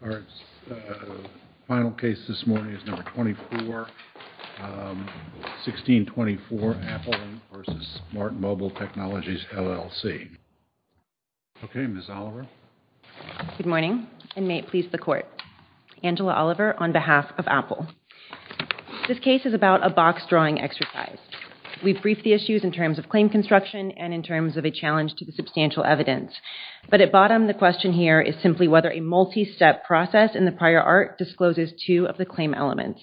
Our final case this morning is number 24, 1624 Apple v. Smart Mobile Technologies LLC. Okay, Ms. Oliver. Good morning and may it please the court. Angela Oliver on behalf of Apple. This case is about a box drawing exercise. We've briefed the issues in terms of claim construction and in terms of a challenge to the substantial evidence, but at bottom the question here is simply whether a multi-step process in the prior art discloses two of the claim elements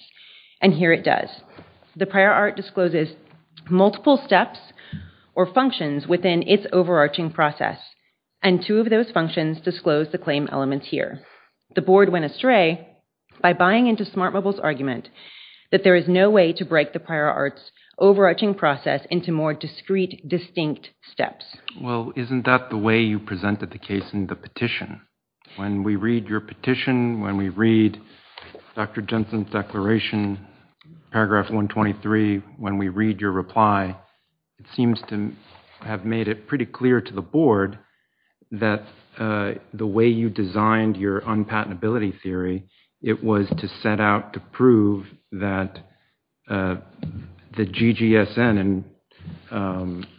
and here it does. The prior art discloses multiple steps or functions within its overarching process and two of those functions disclose the claim elements here. The board went astray by buying into Smart Mobile's argument that there is no way to break the prior arts overarching process into more discrete distinct steps. Well isn't that the way you presented the case in the petition? When we read your petition, when we read Dr. Jensen's declaration, paragraph 123, when we read your reply, it seems to have made it pretty clear to the board that the way you designed your unpatentability theory, it was to set out to prove that the GGSN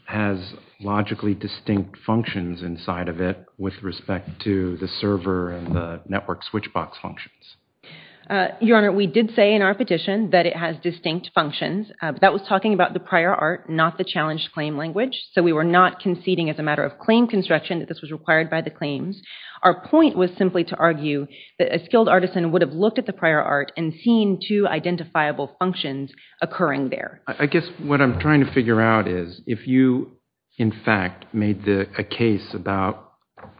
has logically distinct functions inside of it with respect to the server and the network switch box functions. Your Honor, we did say in our petition that it has distinct functions. That was talking about the prior art, not the challenged claim language, so we were not conceding as a matter of claim construction that this was required by the claims. Our point was simply to argue that a skilled artisan would have looked at the prior art and seen two identifiable functions occurring there. I guess what I'm trying to figure out is, if you in fact made a case about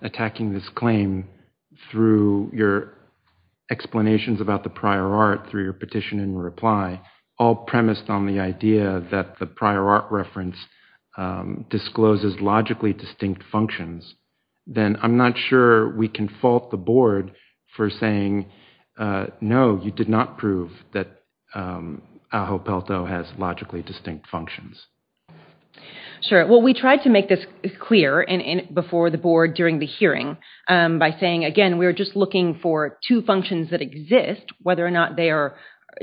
attacking this claim through your explanations about the prior art through your petition and reply, all premised on the idea that the prior art reference discloses logically distinct functions, then I'm not sure we can fault the board for saying, no, you did not prove that Ajo Pelto has logically distinct functions. Sure, well we tried to make this clear before the board during the hearing by saying, again, we were just looking for two functions that exist, whether or not they are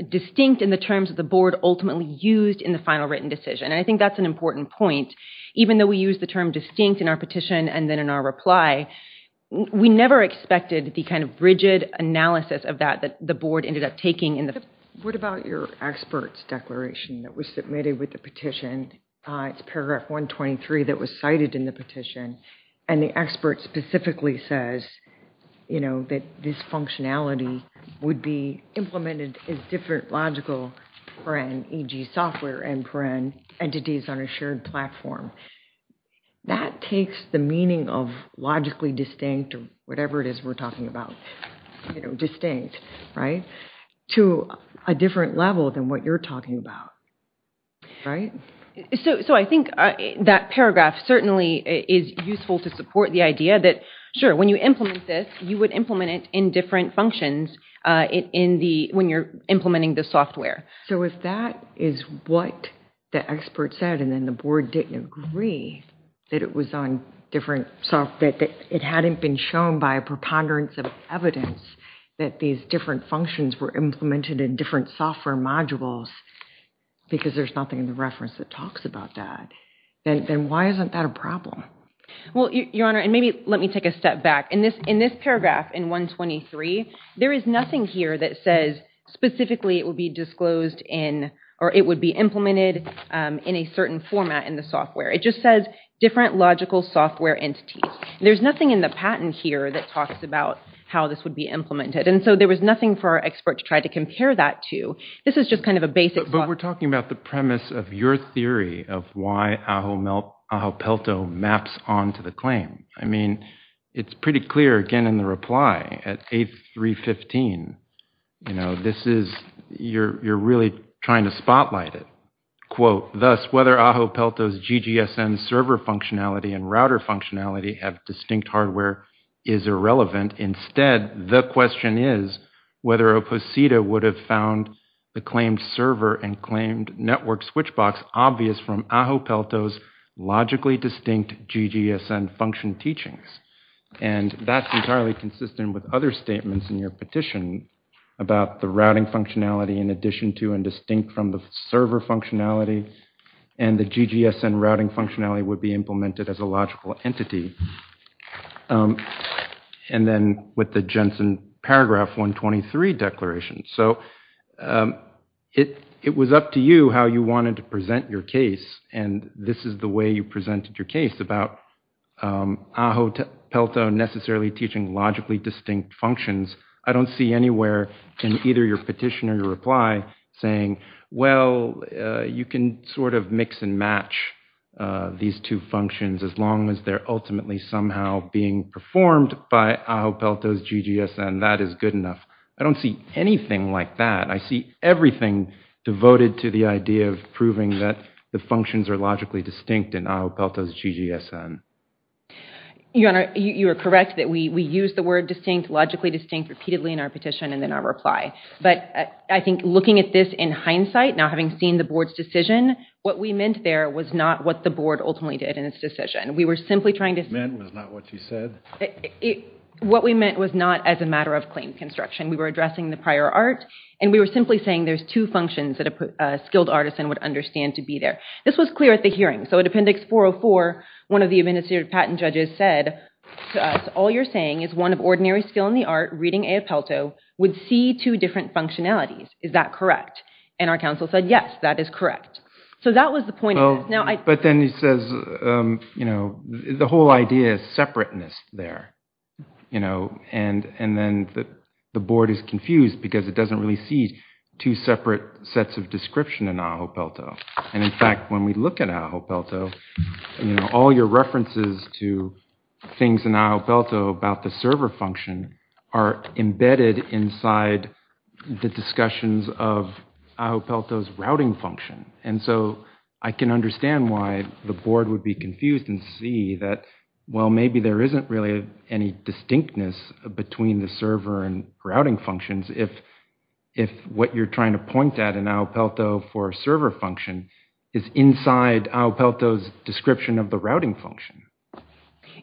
distinct in the terms of the board ultimately used in the final written decision. I think that's an important point. Even though we use the term distinct in our petition and then in our reply, we never expected the kind of rigid analysis of that that the board ended up taking. What about your expert's declaration that was submitted with the petition? It's paragraph 123 that was cited in the petition and the expert specifically says that this functionality would be implemented as different logical, e.g. software and entities on a shared platform. That takes the meaning of logically distinct or whatever it is we're talking about, you know, distinct, right? To a different level than what you're talking about, right? So I think that paragraph certainly is useful to support the idea that, sure, when you implement this, you would implement it in different functions when you're implementing the software. So if that is what the expert said and then the board didn't agree that it was on different, that it hadn't been shown by a preponderance of evidence that these different functions were implemented in different software modules because there's nothing in the reference that talks about that, then why isn't that a problem? Well, Your Honor, and maybe let me take a step back. In this paragraph in 123, there is nothing here that says specifically it would be disclosed in or it would be implemented in a certain format in the software. It just says different logical software entities. There's nothing in the patent here that talks about how this would be implemented, and so there was nothing for our expert to try to compare that to. This is just kind of a basic... But we're talking about the premise of your theory of why Ajo Pelto maps on to the claim. I mean, it's pretty clear, again, in the reply at A315, you know, this is, you're really trying to spotlight it. Quote, thus whether Ajo Pelto's GGSN server functionality and router functionality have distinct hardware is irrelevant. Instead, the question is whether Oposita would have found the claimed server and claimed network switch box obvious from Ajo Pelto's logically distinct GGSN function teachings. And that's entirely consistent with other statements in your petition about the routing functionality in addition to and distinct from the server functionality and the GGSN routing functionality would be implemented as a logical entity. And then with the Jensen paragraph 123 declaration. So it was up to you how you wanted to present your case and this is the way you presented your case about Ajo Pelto necessarily teaching logically distinct functions. I don't see anywhere in either your petition or your reply saying, well, you can sort of mix and match these two functions as long as they're ultimately somehow being performed by Ajo Pelto's GGSN. That is good enough. I don't see anything like that. I see everything devoted to the idea of proving that the functions are logically distinct in Ajo Pelto. Your Honor, you are correct that we we use the word distinct, logically distinct, repeatedly in our petition and then our reply. But I think looking at this in hindsight, now having seen the board's decision, what we meant there was not what the board ultimately did in its decision. We were simply trying to... What you meant was not what you said? What we meant was not as a matter of claim construction. We were addressing the prior art and we were simply saying there's two functions that a skilled artisan would understand to be there. This was clear at the hearing. So at Appendix 404, one of the administrative patent judges said to us, all you're saying is one of ordinary skill in the art, reading Ajo Pelto, would see two different functionalities. Is that correct? And our counsel said, yes, that is correct. So that was the point. But then he says, you know, the whole idea is separateness there, you know, and then the board is confused because it doesn't really see two separate sets of description in Ajo Pelto. And in fact, when we look at Ajo Pelto, the references to things in Ajo Pelto about the server function are embedded inside the discussions of Ajo Pelto's routing function. And so I can understand why the board would be confused and see that, well, maybe there isn't really any distinctness between the server and routing functions if what you're trying to point at in Ajo Pelto for a server function is inside Ajo Pelto's description of the routing function.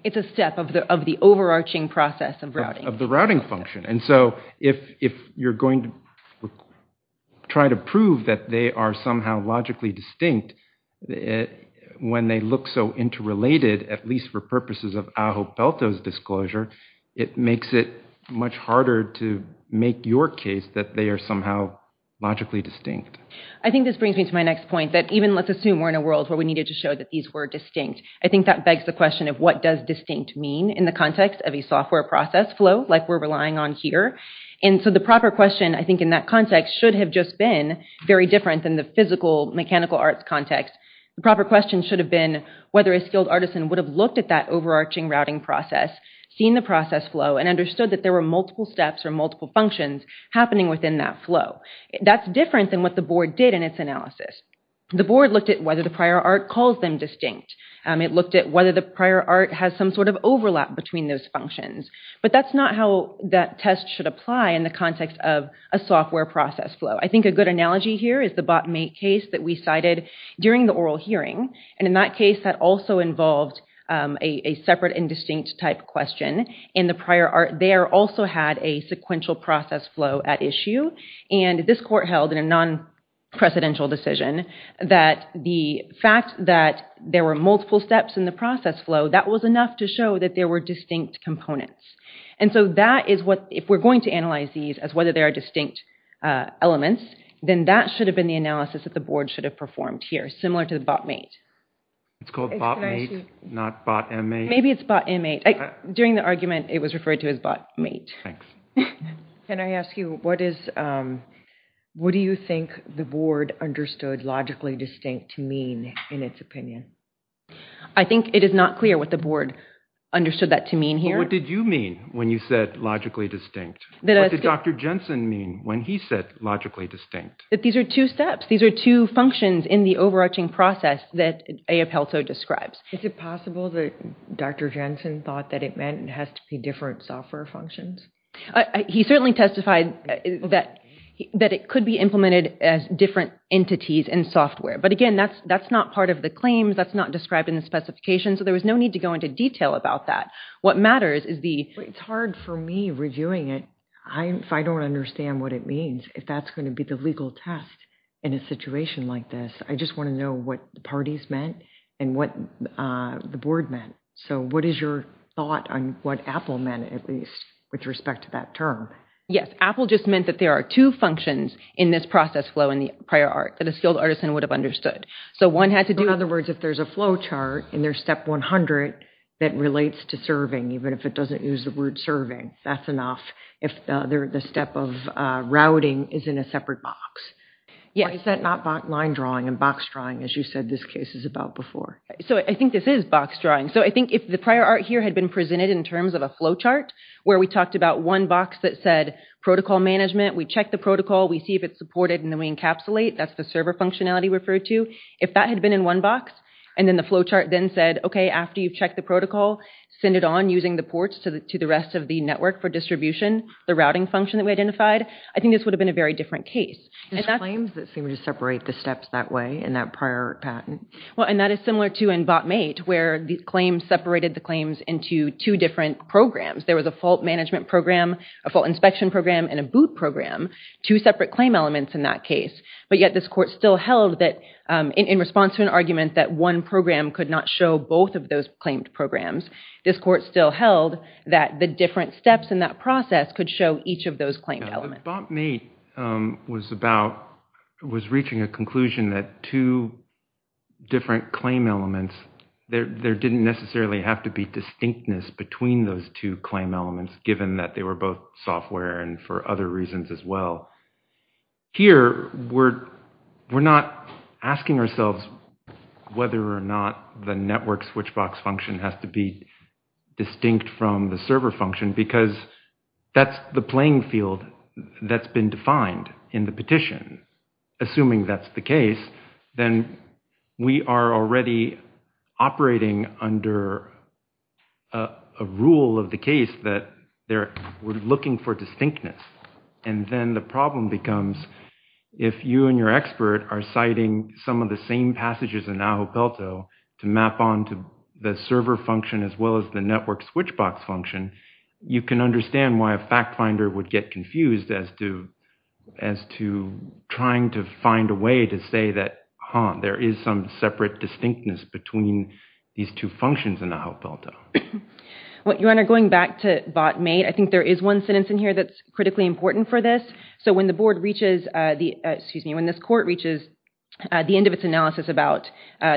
It's a step of the overarching process of routing. Of the routing function. And so if you're going to try to prove that they are somehow logically distinct, when they look so interrelated, at least for purposes of Ajo Pelto's disclosure, it makes it much harder to make your case that they are somehow logically distinct. I think this brings me to my next point, that even let's assume we're in a world where we needed to show that these were distinct. I think that begs the question of what does distinct mean in the context of a software process flow like we're relying on here. And so the proper question, I think, in that context should have just been very different than the physical mechanical arts context. The proper question should have been whether a skilled artisan would have looked at that overarching routing process, seen the process flow, and understood that there were multiple steps or multiple functions happening within that flow. That's different than what the board did in its analysis. The board looked at whether the prior art calls them distinct. It looked at whether the prior art has some sort of overlap between those functions. But that's not how that test should apply in the context of a software process flow. I think a good analogy here is the bot mate case that we cited during the oral hearing. And in that case that also involved a separate and distinct type question. In the prior art there also had a sequential process flow at issue. And this court held in a non-precedential decision that the fact that there were multiple steps in the process flow, that was enough to show that there were distinct components. And so that is what, if we're going to analyze these as whether there are distinct elements, then that should have been the analysis that the board should have performed here, similar to the bot mate. It's called bot mate, not bot inmate. Maybe it's bot inmate. During the argument it was referred to as bot mate. Can I ask you, what do you think the board understood logically distinct to mean in its opinion? I think it is not clear what the board understood that to mean here. What did you mean when you said logically distinct? What did Dr. Jensen mean when he said logically distinct? That these are two steps. These are two functions in the overarching process that A. Appelso describes. Is it possible that Dr. Jensen thought that it meant it has to be different software functions? He certainly testified that it could be implemented as different entities and software. But again, that's not part of the claims, that's not described in the specifications, so there was no need to go into detail about that. What matters is the... It's hard for me reviewing it if I don't understand what it means, if that's going to be the legal test in a situation like this. I just want to know what the parties meant and what the board meant. So what is your thought on what Appel meant, at least, with respect to that term? Yes, Appel just meant that there are two functions in this process flow in the prior art that a skilled artisan would have understood. So one had to do... In other words, if there's a flowchart in their step 100 that relates to serving, even if it doesn't use the word serving, that's enough. If the step of routing is in a separate box. Why is that not line drawing and box drawing, as you said this case is about before? So I think this is box drawing. So I think if the prior art here had been presented in terms of a flowchart, where we talked about one box that said protocol management, we check the protocol, we see if it's supported, and then we encapsulate, that's the server functionality referred to. If that had been in one box and then the flowchart then said, okay, after you've checked the protocol, send it on using the ports to the rest of the network for distribution, the routing function that we identified, I think this would have been a very different case. There's claims that they were to separate the steps that way in that prior patent. Well and that is similar to in bot mate, where the claims separated the claims into two different programs. There was a fault management program, a fault inspection program, and a boot program. Two separate claim elements in that case, but yet this court still held that in response to an argument that one program could not show both of those claimed programs, this court still held that the different steps in that process could show each of those claimed elements. Bot mate was reaching a conclusion that two different claim elements, there didn't necessarily have to be distinctness between those two claim elements, given that they were both software and for other reasons as well. Here we're not asking ourselves whether or not the network switchbox function has to be distinct from the server function, because that's the playing field that's been defined in the petition. Assuming that's the case, then we are already operating under a rule of the case that we're looking for distinctness, and then the problem becomes, if you and your expert are citing some of the same passages in Aho Pelto to map on to the server function as well as the network switchbox function, you can understand why a fact finder would get confused as to trying to find a way to say that, huh, there is some separate distinctness between these two functions in Aho Pelto. Your Honor, going back to bot mate, I think there is one sentence in here that's critically important for this. So when the board reaches the, excuse me, when this court reaches the end of its analysis about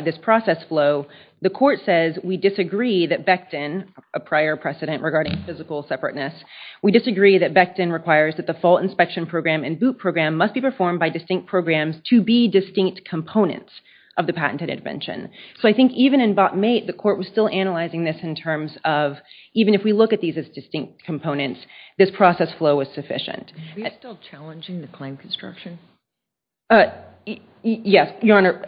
this process flow, the court says we disagree that Becton, a prior precedent regarding physical separateness, we disagree that Becton requires that the fault inspection program and boot program must be performed by distinct programs to be distinct components of the patented intervention. So I think even in bot mate, the court was still analyzing this in terms of, even if we look at these as distinct components, this process flow was sufficient. Are we still challenging the claim construction? Yes, Your Honor,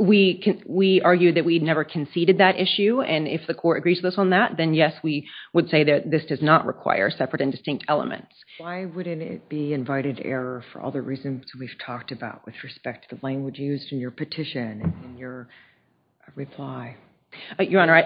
we argued that we'd never conceded that issue, and if the court agrees with us on that, then yes, we would say that this does not require separate and distinct elements. Why wouldn't it be invited error for all the reasons we've talked about with respect to the language used in your petition and your reply? Your Honor,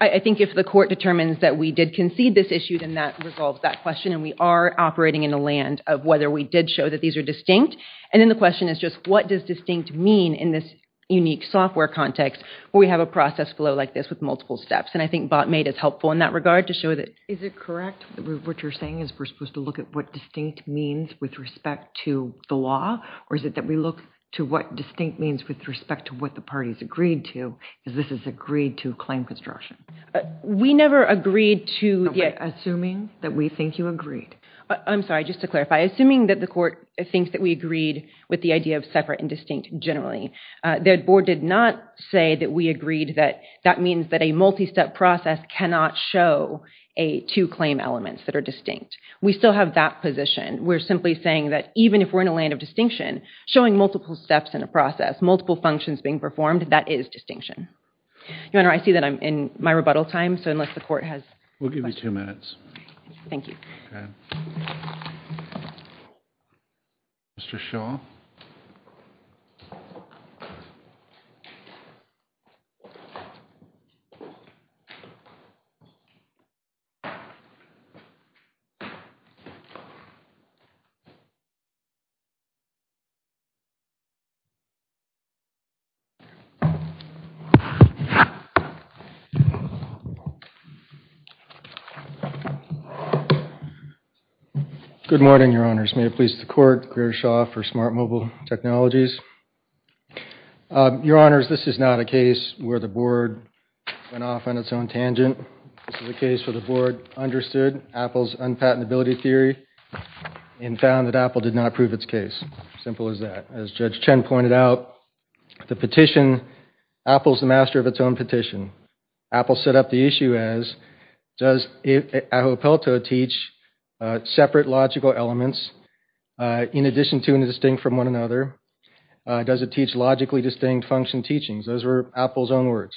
I think if the court determines that we did concede this issue, then that resolves that question, and we are operating in the land of whether we did show that these are distinct, and then the question is just what does distinct mean in this unique software context where we have a process flow like this with multiple steps, and I think bot mate is helpful in that regard to show that. Is it correct that what you're saying is we're supposed to look at what distinct means with respect to the law, or is it that we look to what distinct means with respect to what the parties agreed to, because this is agreed to claim construction? We never agreed to... Assuming that we think you agreed. I'm sorry, just to clarify, assuming that the court thinks that we agreed with the idea of separate and distinct generally, the board did not say that we agreed that that means that a multi-step process cannot show a two claim elements that are distinct. We still have that position. We're simply saying that even if we're in a land of distinction, showing multiple steps in a process, multiple functions being performed, that is distinction. Your Honor, I see that I'm in my rebuttal time, so unless the court has... We'll give you two minutes. Thank you. Okay. Mr. Shaw. Good morning, Your Honors. May it please the court, Greer Shaw for Smart Mobile Technologies. Your Honors, this is not a case where the board went off on its own tangent. This is a case where the board understood Apple's unpatentability theory and found that Apple did not prove its case. Simple as that. As Judge Chen pointed out, the petition, Apple's the master of its own petition. Apple set up the issue as, does Ahuapalto teach separate logical elements in addition to and distinct from one another? Does it teach logically distinct function teachings? Those were Apple's own words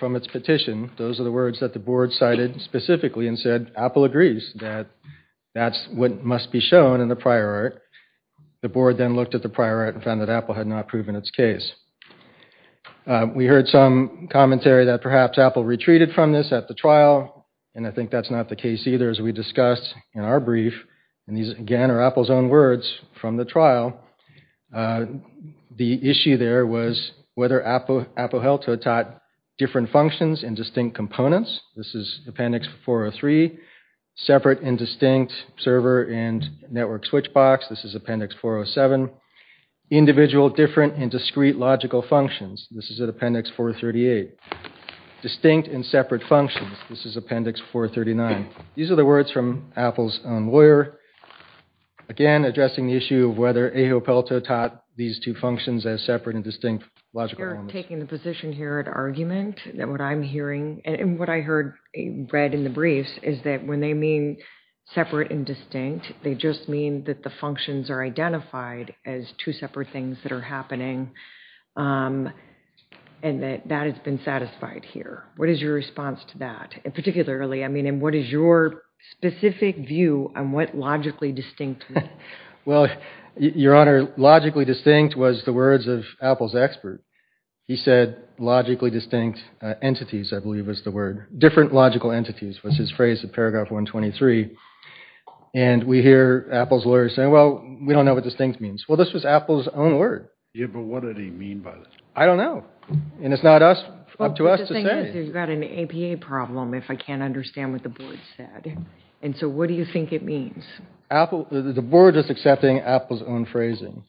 from its petition. Those are the words that the board cited specifically and said Apple agrees that that's what must be shown in the prior art. The board then looked at the prior art and found that Apple had not proven its case. We heard some commentary that perhaps Apple retreated from this at the trial, and I think that's not the case either as we discussed in our brief, and these again are Apple's own words from the trial. The issue there was whether Ahuapalto taught different functions and distinct components. This is Appendix 403, separate and distinct server and network switch box. This is Appendix 407, individual different and discrete logical functions. This is at Appendix 438, distinct and separate functions. This is Appendix 439. These are the words from Apple's own lawyer, again addressing the issue of whether Ahuapalto taught these two functions as separate and distinct logical elements. You're taking the position here at argument that what I'm hearing and what I heard read in the briefs is that when they mean separate and distinct, they just mean that the functions are identified as two separate things that are happening, and that that has been satisfied here. What is your response to that? And particularly, I mean, what is your specific view on what logically distinct means? Well, Your Honor, logically distinct was the words of Apple's expert. He said logically distinct entities, I believe, was the word. Different logical entities was his phrase in paragraph 123, and we hear Apple's lawyer saying, well, we don't know what distinct means. Well, this was Apple's own word. Yeah, but what did he mean by that? I don't know, and it's not up to us to say. You've got an APA problem if I can't understand what the board said, and so what do you think it means? Apple, the board is accepting Apple's own phrasing.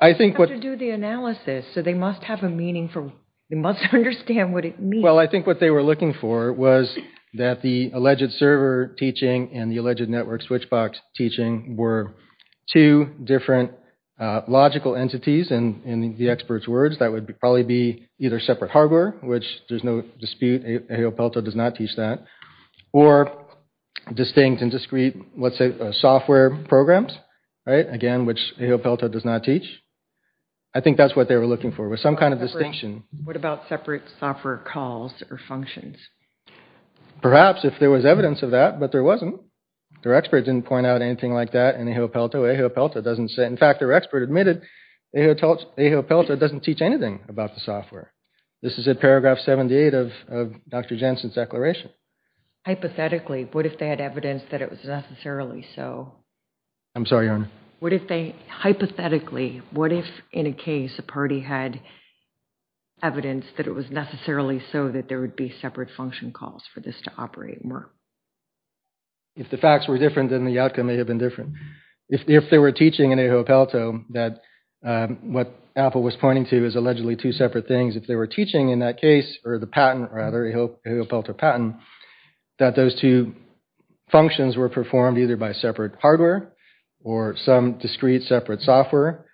I think what... You have to do the analysis, so they must have a meaning for, they must understand what it means. Well, I think what they were looking for was that the alleged server teaching and the alleged network switchbox teaching were two different logical entities, and in the experts words, that would probably be either separate hardware, which there's no dispute, AOPelto does not teach that, or distinct and discrete, let's say, software programs, right, again, which AOPelto does not teach. I think that's what they were looking for, was some kind of distinction. What about separate software calls or functions? Perhaps, if there was evidence of that, but there wasn't. Their experts didn't point out anything like that in AOPelto. AOPelto doesn't say, in fact, their expert admitted AOPelto doesn't teach anything about the software. This is in paragraph 78 of Dr. Jensen's declaration. Hypothetically, what if they had evidence that it was necessarily so? I'm sorry, Your Honor. What if they, hypothetically, what if, in a case, a party had evidence that it was necessarily so that there would be separate function calls for this to operate? If the facts were different, then the outcome may have been different. If they were teaching in AOPelto that what Apple was pointing to is allegedly two separate things, if they were teaching in that case, or the patent rather, AOPelto patent, that those two functions were performed either by separate hardware or some discrete separate software,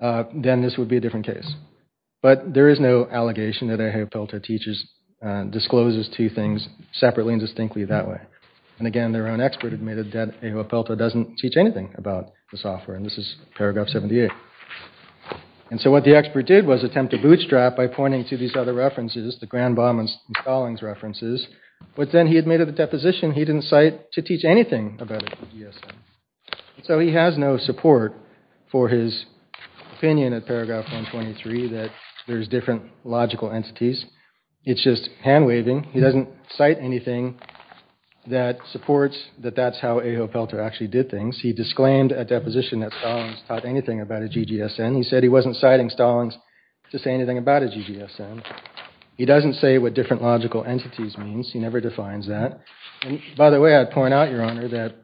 then this would be a different case. But there is no allegation that AOPelto discloses two things separately and distinctly that way. And again, their own expert admitted that AOPelto doesn't teach anything about the software, and this is paragraph 78. And so what the expert did was attempt to bootstrap by pointing to these other references, the Granbaum and Stallings references, but then he admitted the deposition he didn't cite to teach anything about a GGSN. So he has no support for his opinion at paragraph 123 that there's different logical entities. It's just hand-waving. He doesn't cite anything that supports that that's how AOPelto actually did things. He disclaimed a deposition that Stallings taught anything about a GGSN. He said he wasn't citing Stallings to say anything about a GGSN. He doesn't say what different logical entities means. He never defines that. And by the way, I point out, Your Honor, that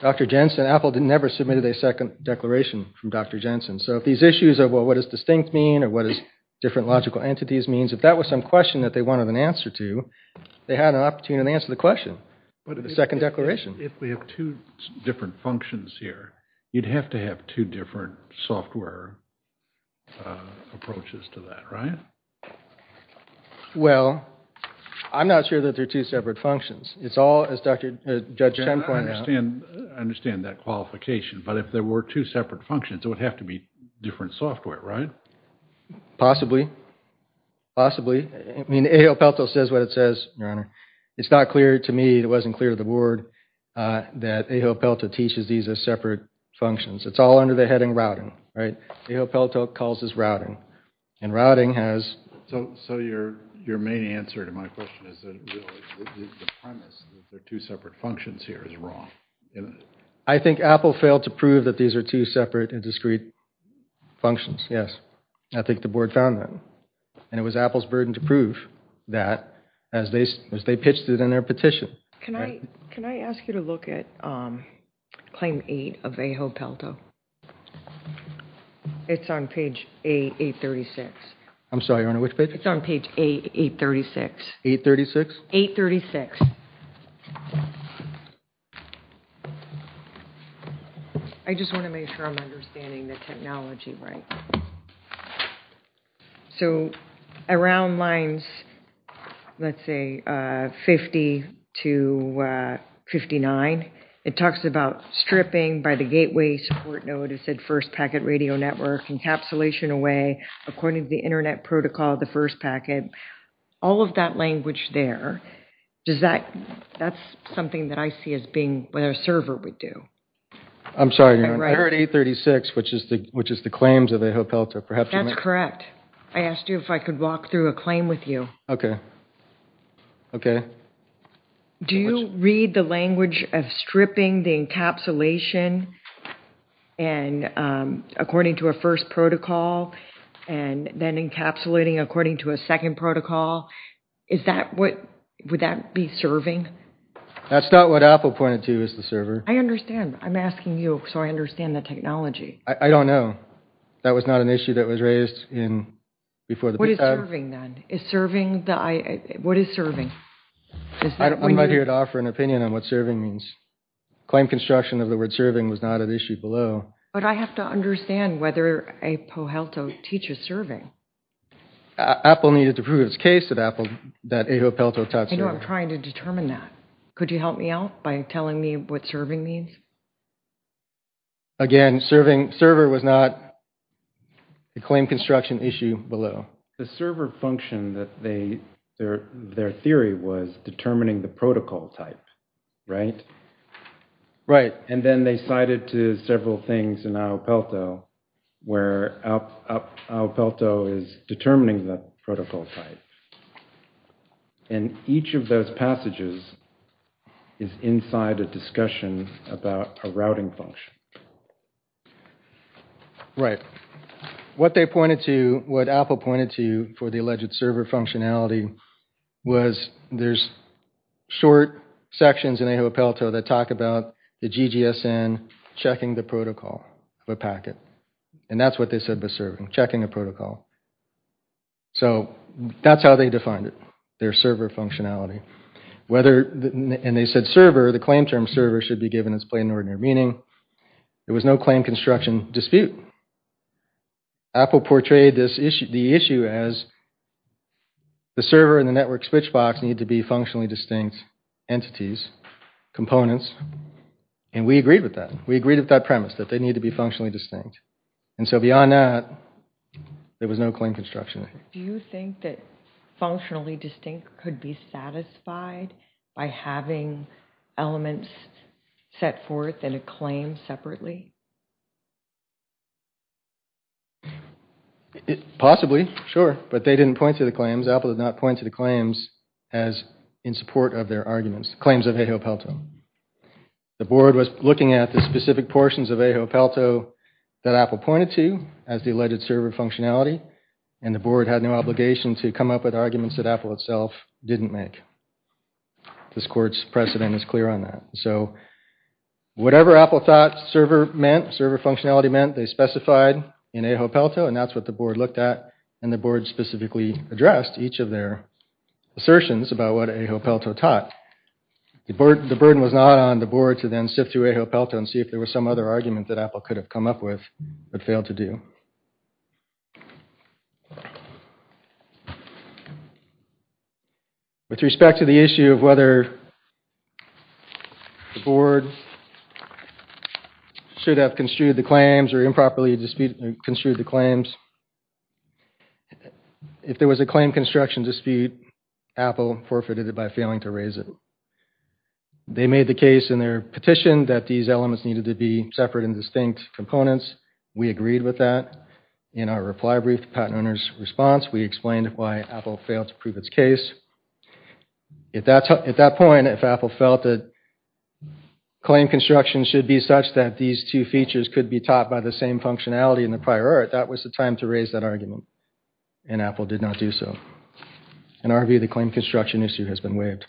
Dr. Jensen, AOPelto never submitted a second declaration from Dr. Jensen. So if these issues of what does distinct mean or what is different logical entities means, if that was some question that they wanted an answer to, they had an opportunity to answer the question in the second declaration. If we have two different functions here, you'd have to have two different software approaches to that, right? Well, I'm not sure that they're two separate functions. It's all, as Dr. Jensen pointed out... I understand that qualification, but if there were two separate functions, it would have to be different software, right? Possibly. Possibly. I mean, AOPelto says what it says, Your Honor. It's not clear to me, it wasn't clear to the board that AOPelto teaches these as separate functions. It's all under the heading routing, right? AOPelto calls this routing and routing has... So your main answer to my question is the premise that they're two separate functions here is wrong. I think Apple failed to prove that these are two separate and discrete functions, yes. I think the board found that and it was Apple's burden to prove that as they pitched it in their petition. Can I ask you to look at Claim 8 of AOPelto? It's on page 836. I'm sorry, Your Honor, which page? It's on page 836. 836? 836. I just want to make sure I'm understanding the technology right. So around lines, let's say 50 to 59, it talks about stripping by the gateway support node, it said first packet radio network encapsulation away according to the internet protocol of the first packet. All of that language there, does that, that's something that I see as being what a server would do. I'm sorry, Your Honor, I heard 836 which is the claims of AOPelto. That's correct. I asked you if I could walk through a claim with you. Okay, okay. Do you read the language of stripping the encapsulation and according to a first protocol and then encapsulating according to a second protocol, is that what, would that be serving? That's not what Apple pointed to as the server. I understand. I'm asking you so I understand the technology. I don't know. That was not an issue that was raised in before. What is serving then? Is serving, what is serving? I'm here to give an opinion on what serving means. Claim construction of the word serving was not an issue below. But I have to understand whether AOPelto teaches serving. Apple needed to prove its case that Apple, that AOPelto taught serving. I know I'm trying to determine that. Could you help me out by telling me what serving means? Again, serving, server was not a claim construction issue below. The server function that they, their theory was determining the protocol type, right? Right. And then they cited to several things in AOPelto where AOPelto is determining the protocol type. And each of those passages is inside a discussion about a routing function. Right. What they pointed to, what Apple pointed to for the alleged server functionality, was there's short sections in AOPelto that talk about the GGSN checking the protocol of a packet. And that's what they said was serving, checking a protocol. So that's how they defined it, their server functionality. Whether, and they said server, the claim term server should be given its plain ordinary meaning. There was no claim construction dispute. Apple portrayed this issue, the issue as the server and the network switchbox need to be functionally distinct entities, components, and we agreed with that. We agreed with that premise that they need to be functionally distinct. And so beyond that, there was no claim construction. Do you think that functionally distinct could be satisfied by having elements set forth in a claim separately? Possibly, sure. But they didn't point to the claims. Apple did not point to the claims as in support of their arguments, claims of AOPelto. The board was looking at the specific portions of AOPelto that Apple pointed to as the alleged server functionality and the board had no obligation to come up with arguments that Apple itself didn't make. This court's precedent is clear on that. So whatever Apple thought server meant, server functionality meant, they specified in AOPelto and that's what the board looked at and the board specifically addressed each of their assertions about what AOPelto taught. The burden was not on the board to then sift through AOPelto and see if there was some other argument that Apple could have come up with but failed to do. With respect to the issue of whether the board should have construed the claims or improperly construed the claims, if there was a claim construction dispute, Apple forfeited it by failing to raise it. They made the case in their petition that these elements needed to be separate and distinct components. We agreed with that. In our reply brief, the patent owner's response, we explained why Apple failed to prove its case. At that point, if Apple felt that claim construction should be such that these two features could be taught by the same functionality in the prior art, that was the time to raise that argument and Apple did not do so. In our view, the claim construction issue has been waived.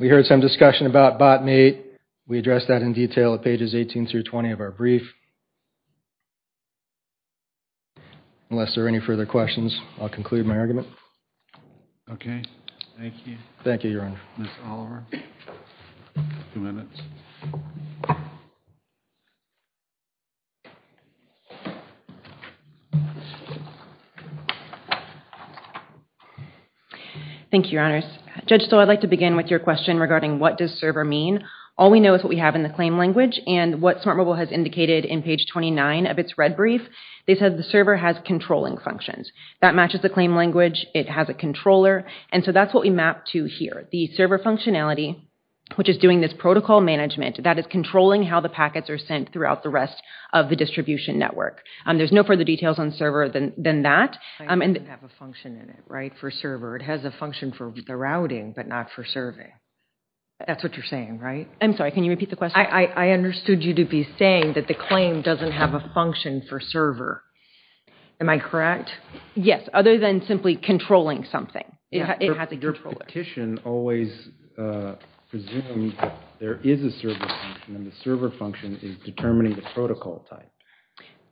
We heard some discussion about bot mate. We addressed that in detail at pages 18 through 20 of our brief. Unless there are any further questions, I'll conclude my argument. Okay, thank you. Thank you, Your Honor. Thank you, Your Honors. Judge Stoll, I'd like to begin with your question regarding what does server mean. All we know is what we have in the claim language and what Smart Mobile has indicated in page 29 of its red brief. They said the server has controlling functions. That matches the claim language. It has a controller and so that's what we map to here. The server functionality, which is doing this protocol management, that is controlling how the packets are sent throughout the rest of the distribution network. There's no further details on server than that. It has a function in it, right, for server. It has a function for the routing but not for serving. That's what you're saying, right? I'm sorry, can you repeat the question? I understood you to be saying that the claim doesn't have a function for server. Am I correct? Yes, other than simply controlling something. It has a controller. Your petition always presumes there is a server function and the server function is determining the protocol type.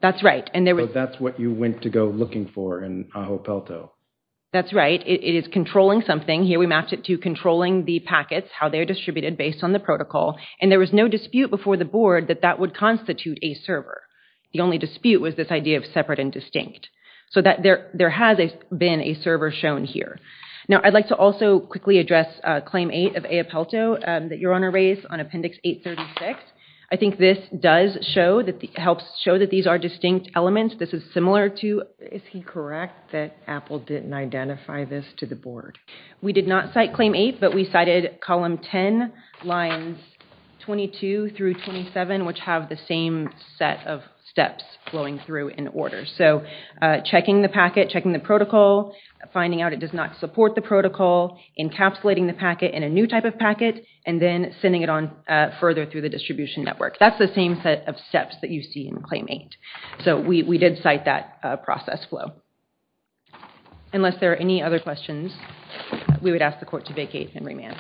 That's right. So that's what you went to go looking for in Ajo Pelto. That's right. It is controlling something. Here we mapped it to controlling the packets, how they are distributed based on the protocol, and there was no dispute before the board that that would constitute a server. The only dispute was this idea of separate and distinct. So that there has been a server shown here. Now I'd like to also quickly address Claim 8 of Ajo Pelto that your Honor raised on Appendix 836. I think this does show that it helps show that these are distinct elements. This is similar to, is he correct that Apple didn't identify this to the board? We did not cite Claim 8 but we cited column 10 lines 22 through 27 which have the same set of steps flowing through in order. So checking the packet, checking the protocol, finding out it does not support the protocol, encapsulating the packet in a new type of packet, and then sending it on further through the distribution network. That's the same set of steps that you see in Claim 8. So we did cite that process flow. Unless there are any other questions, we would ask the court to vacate and remand.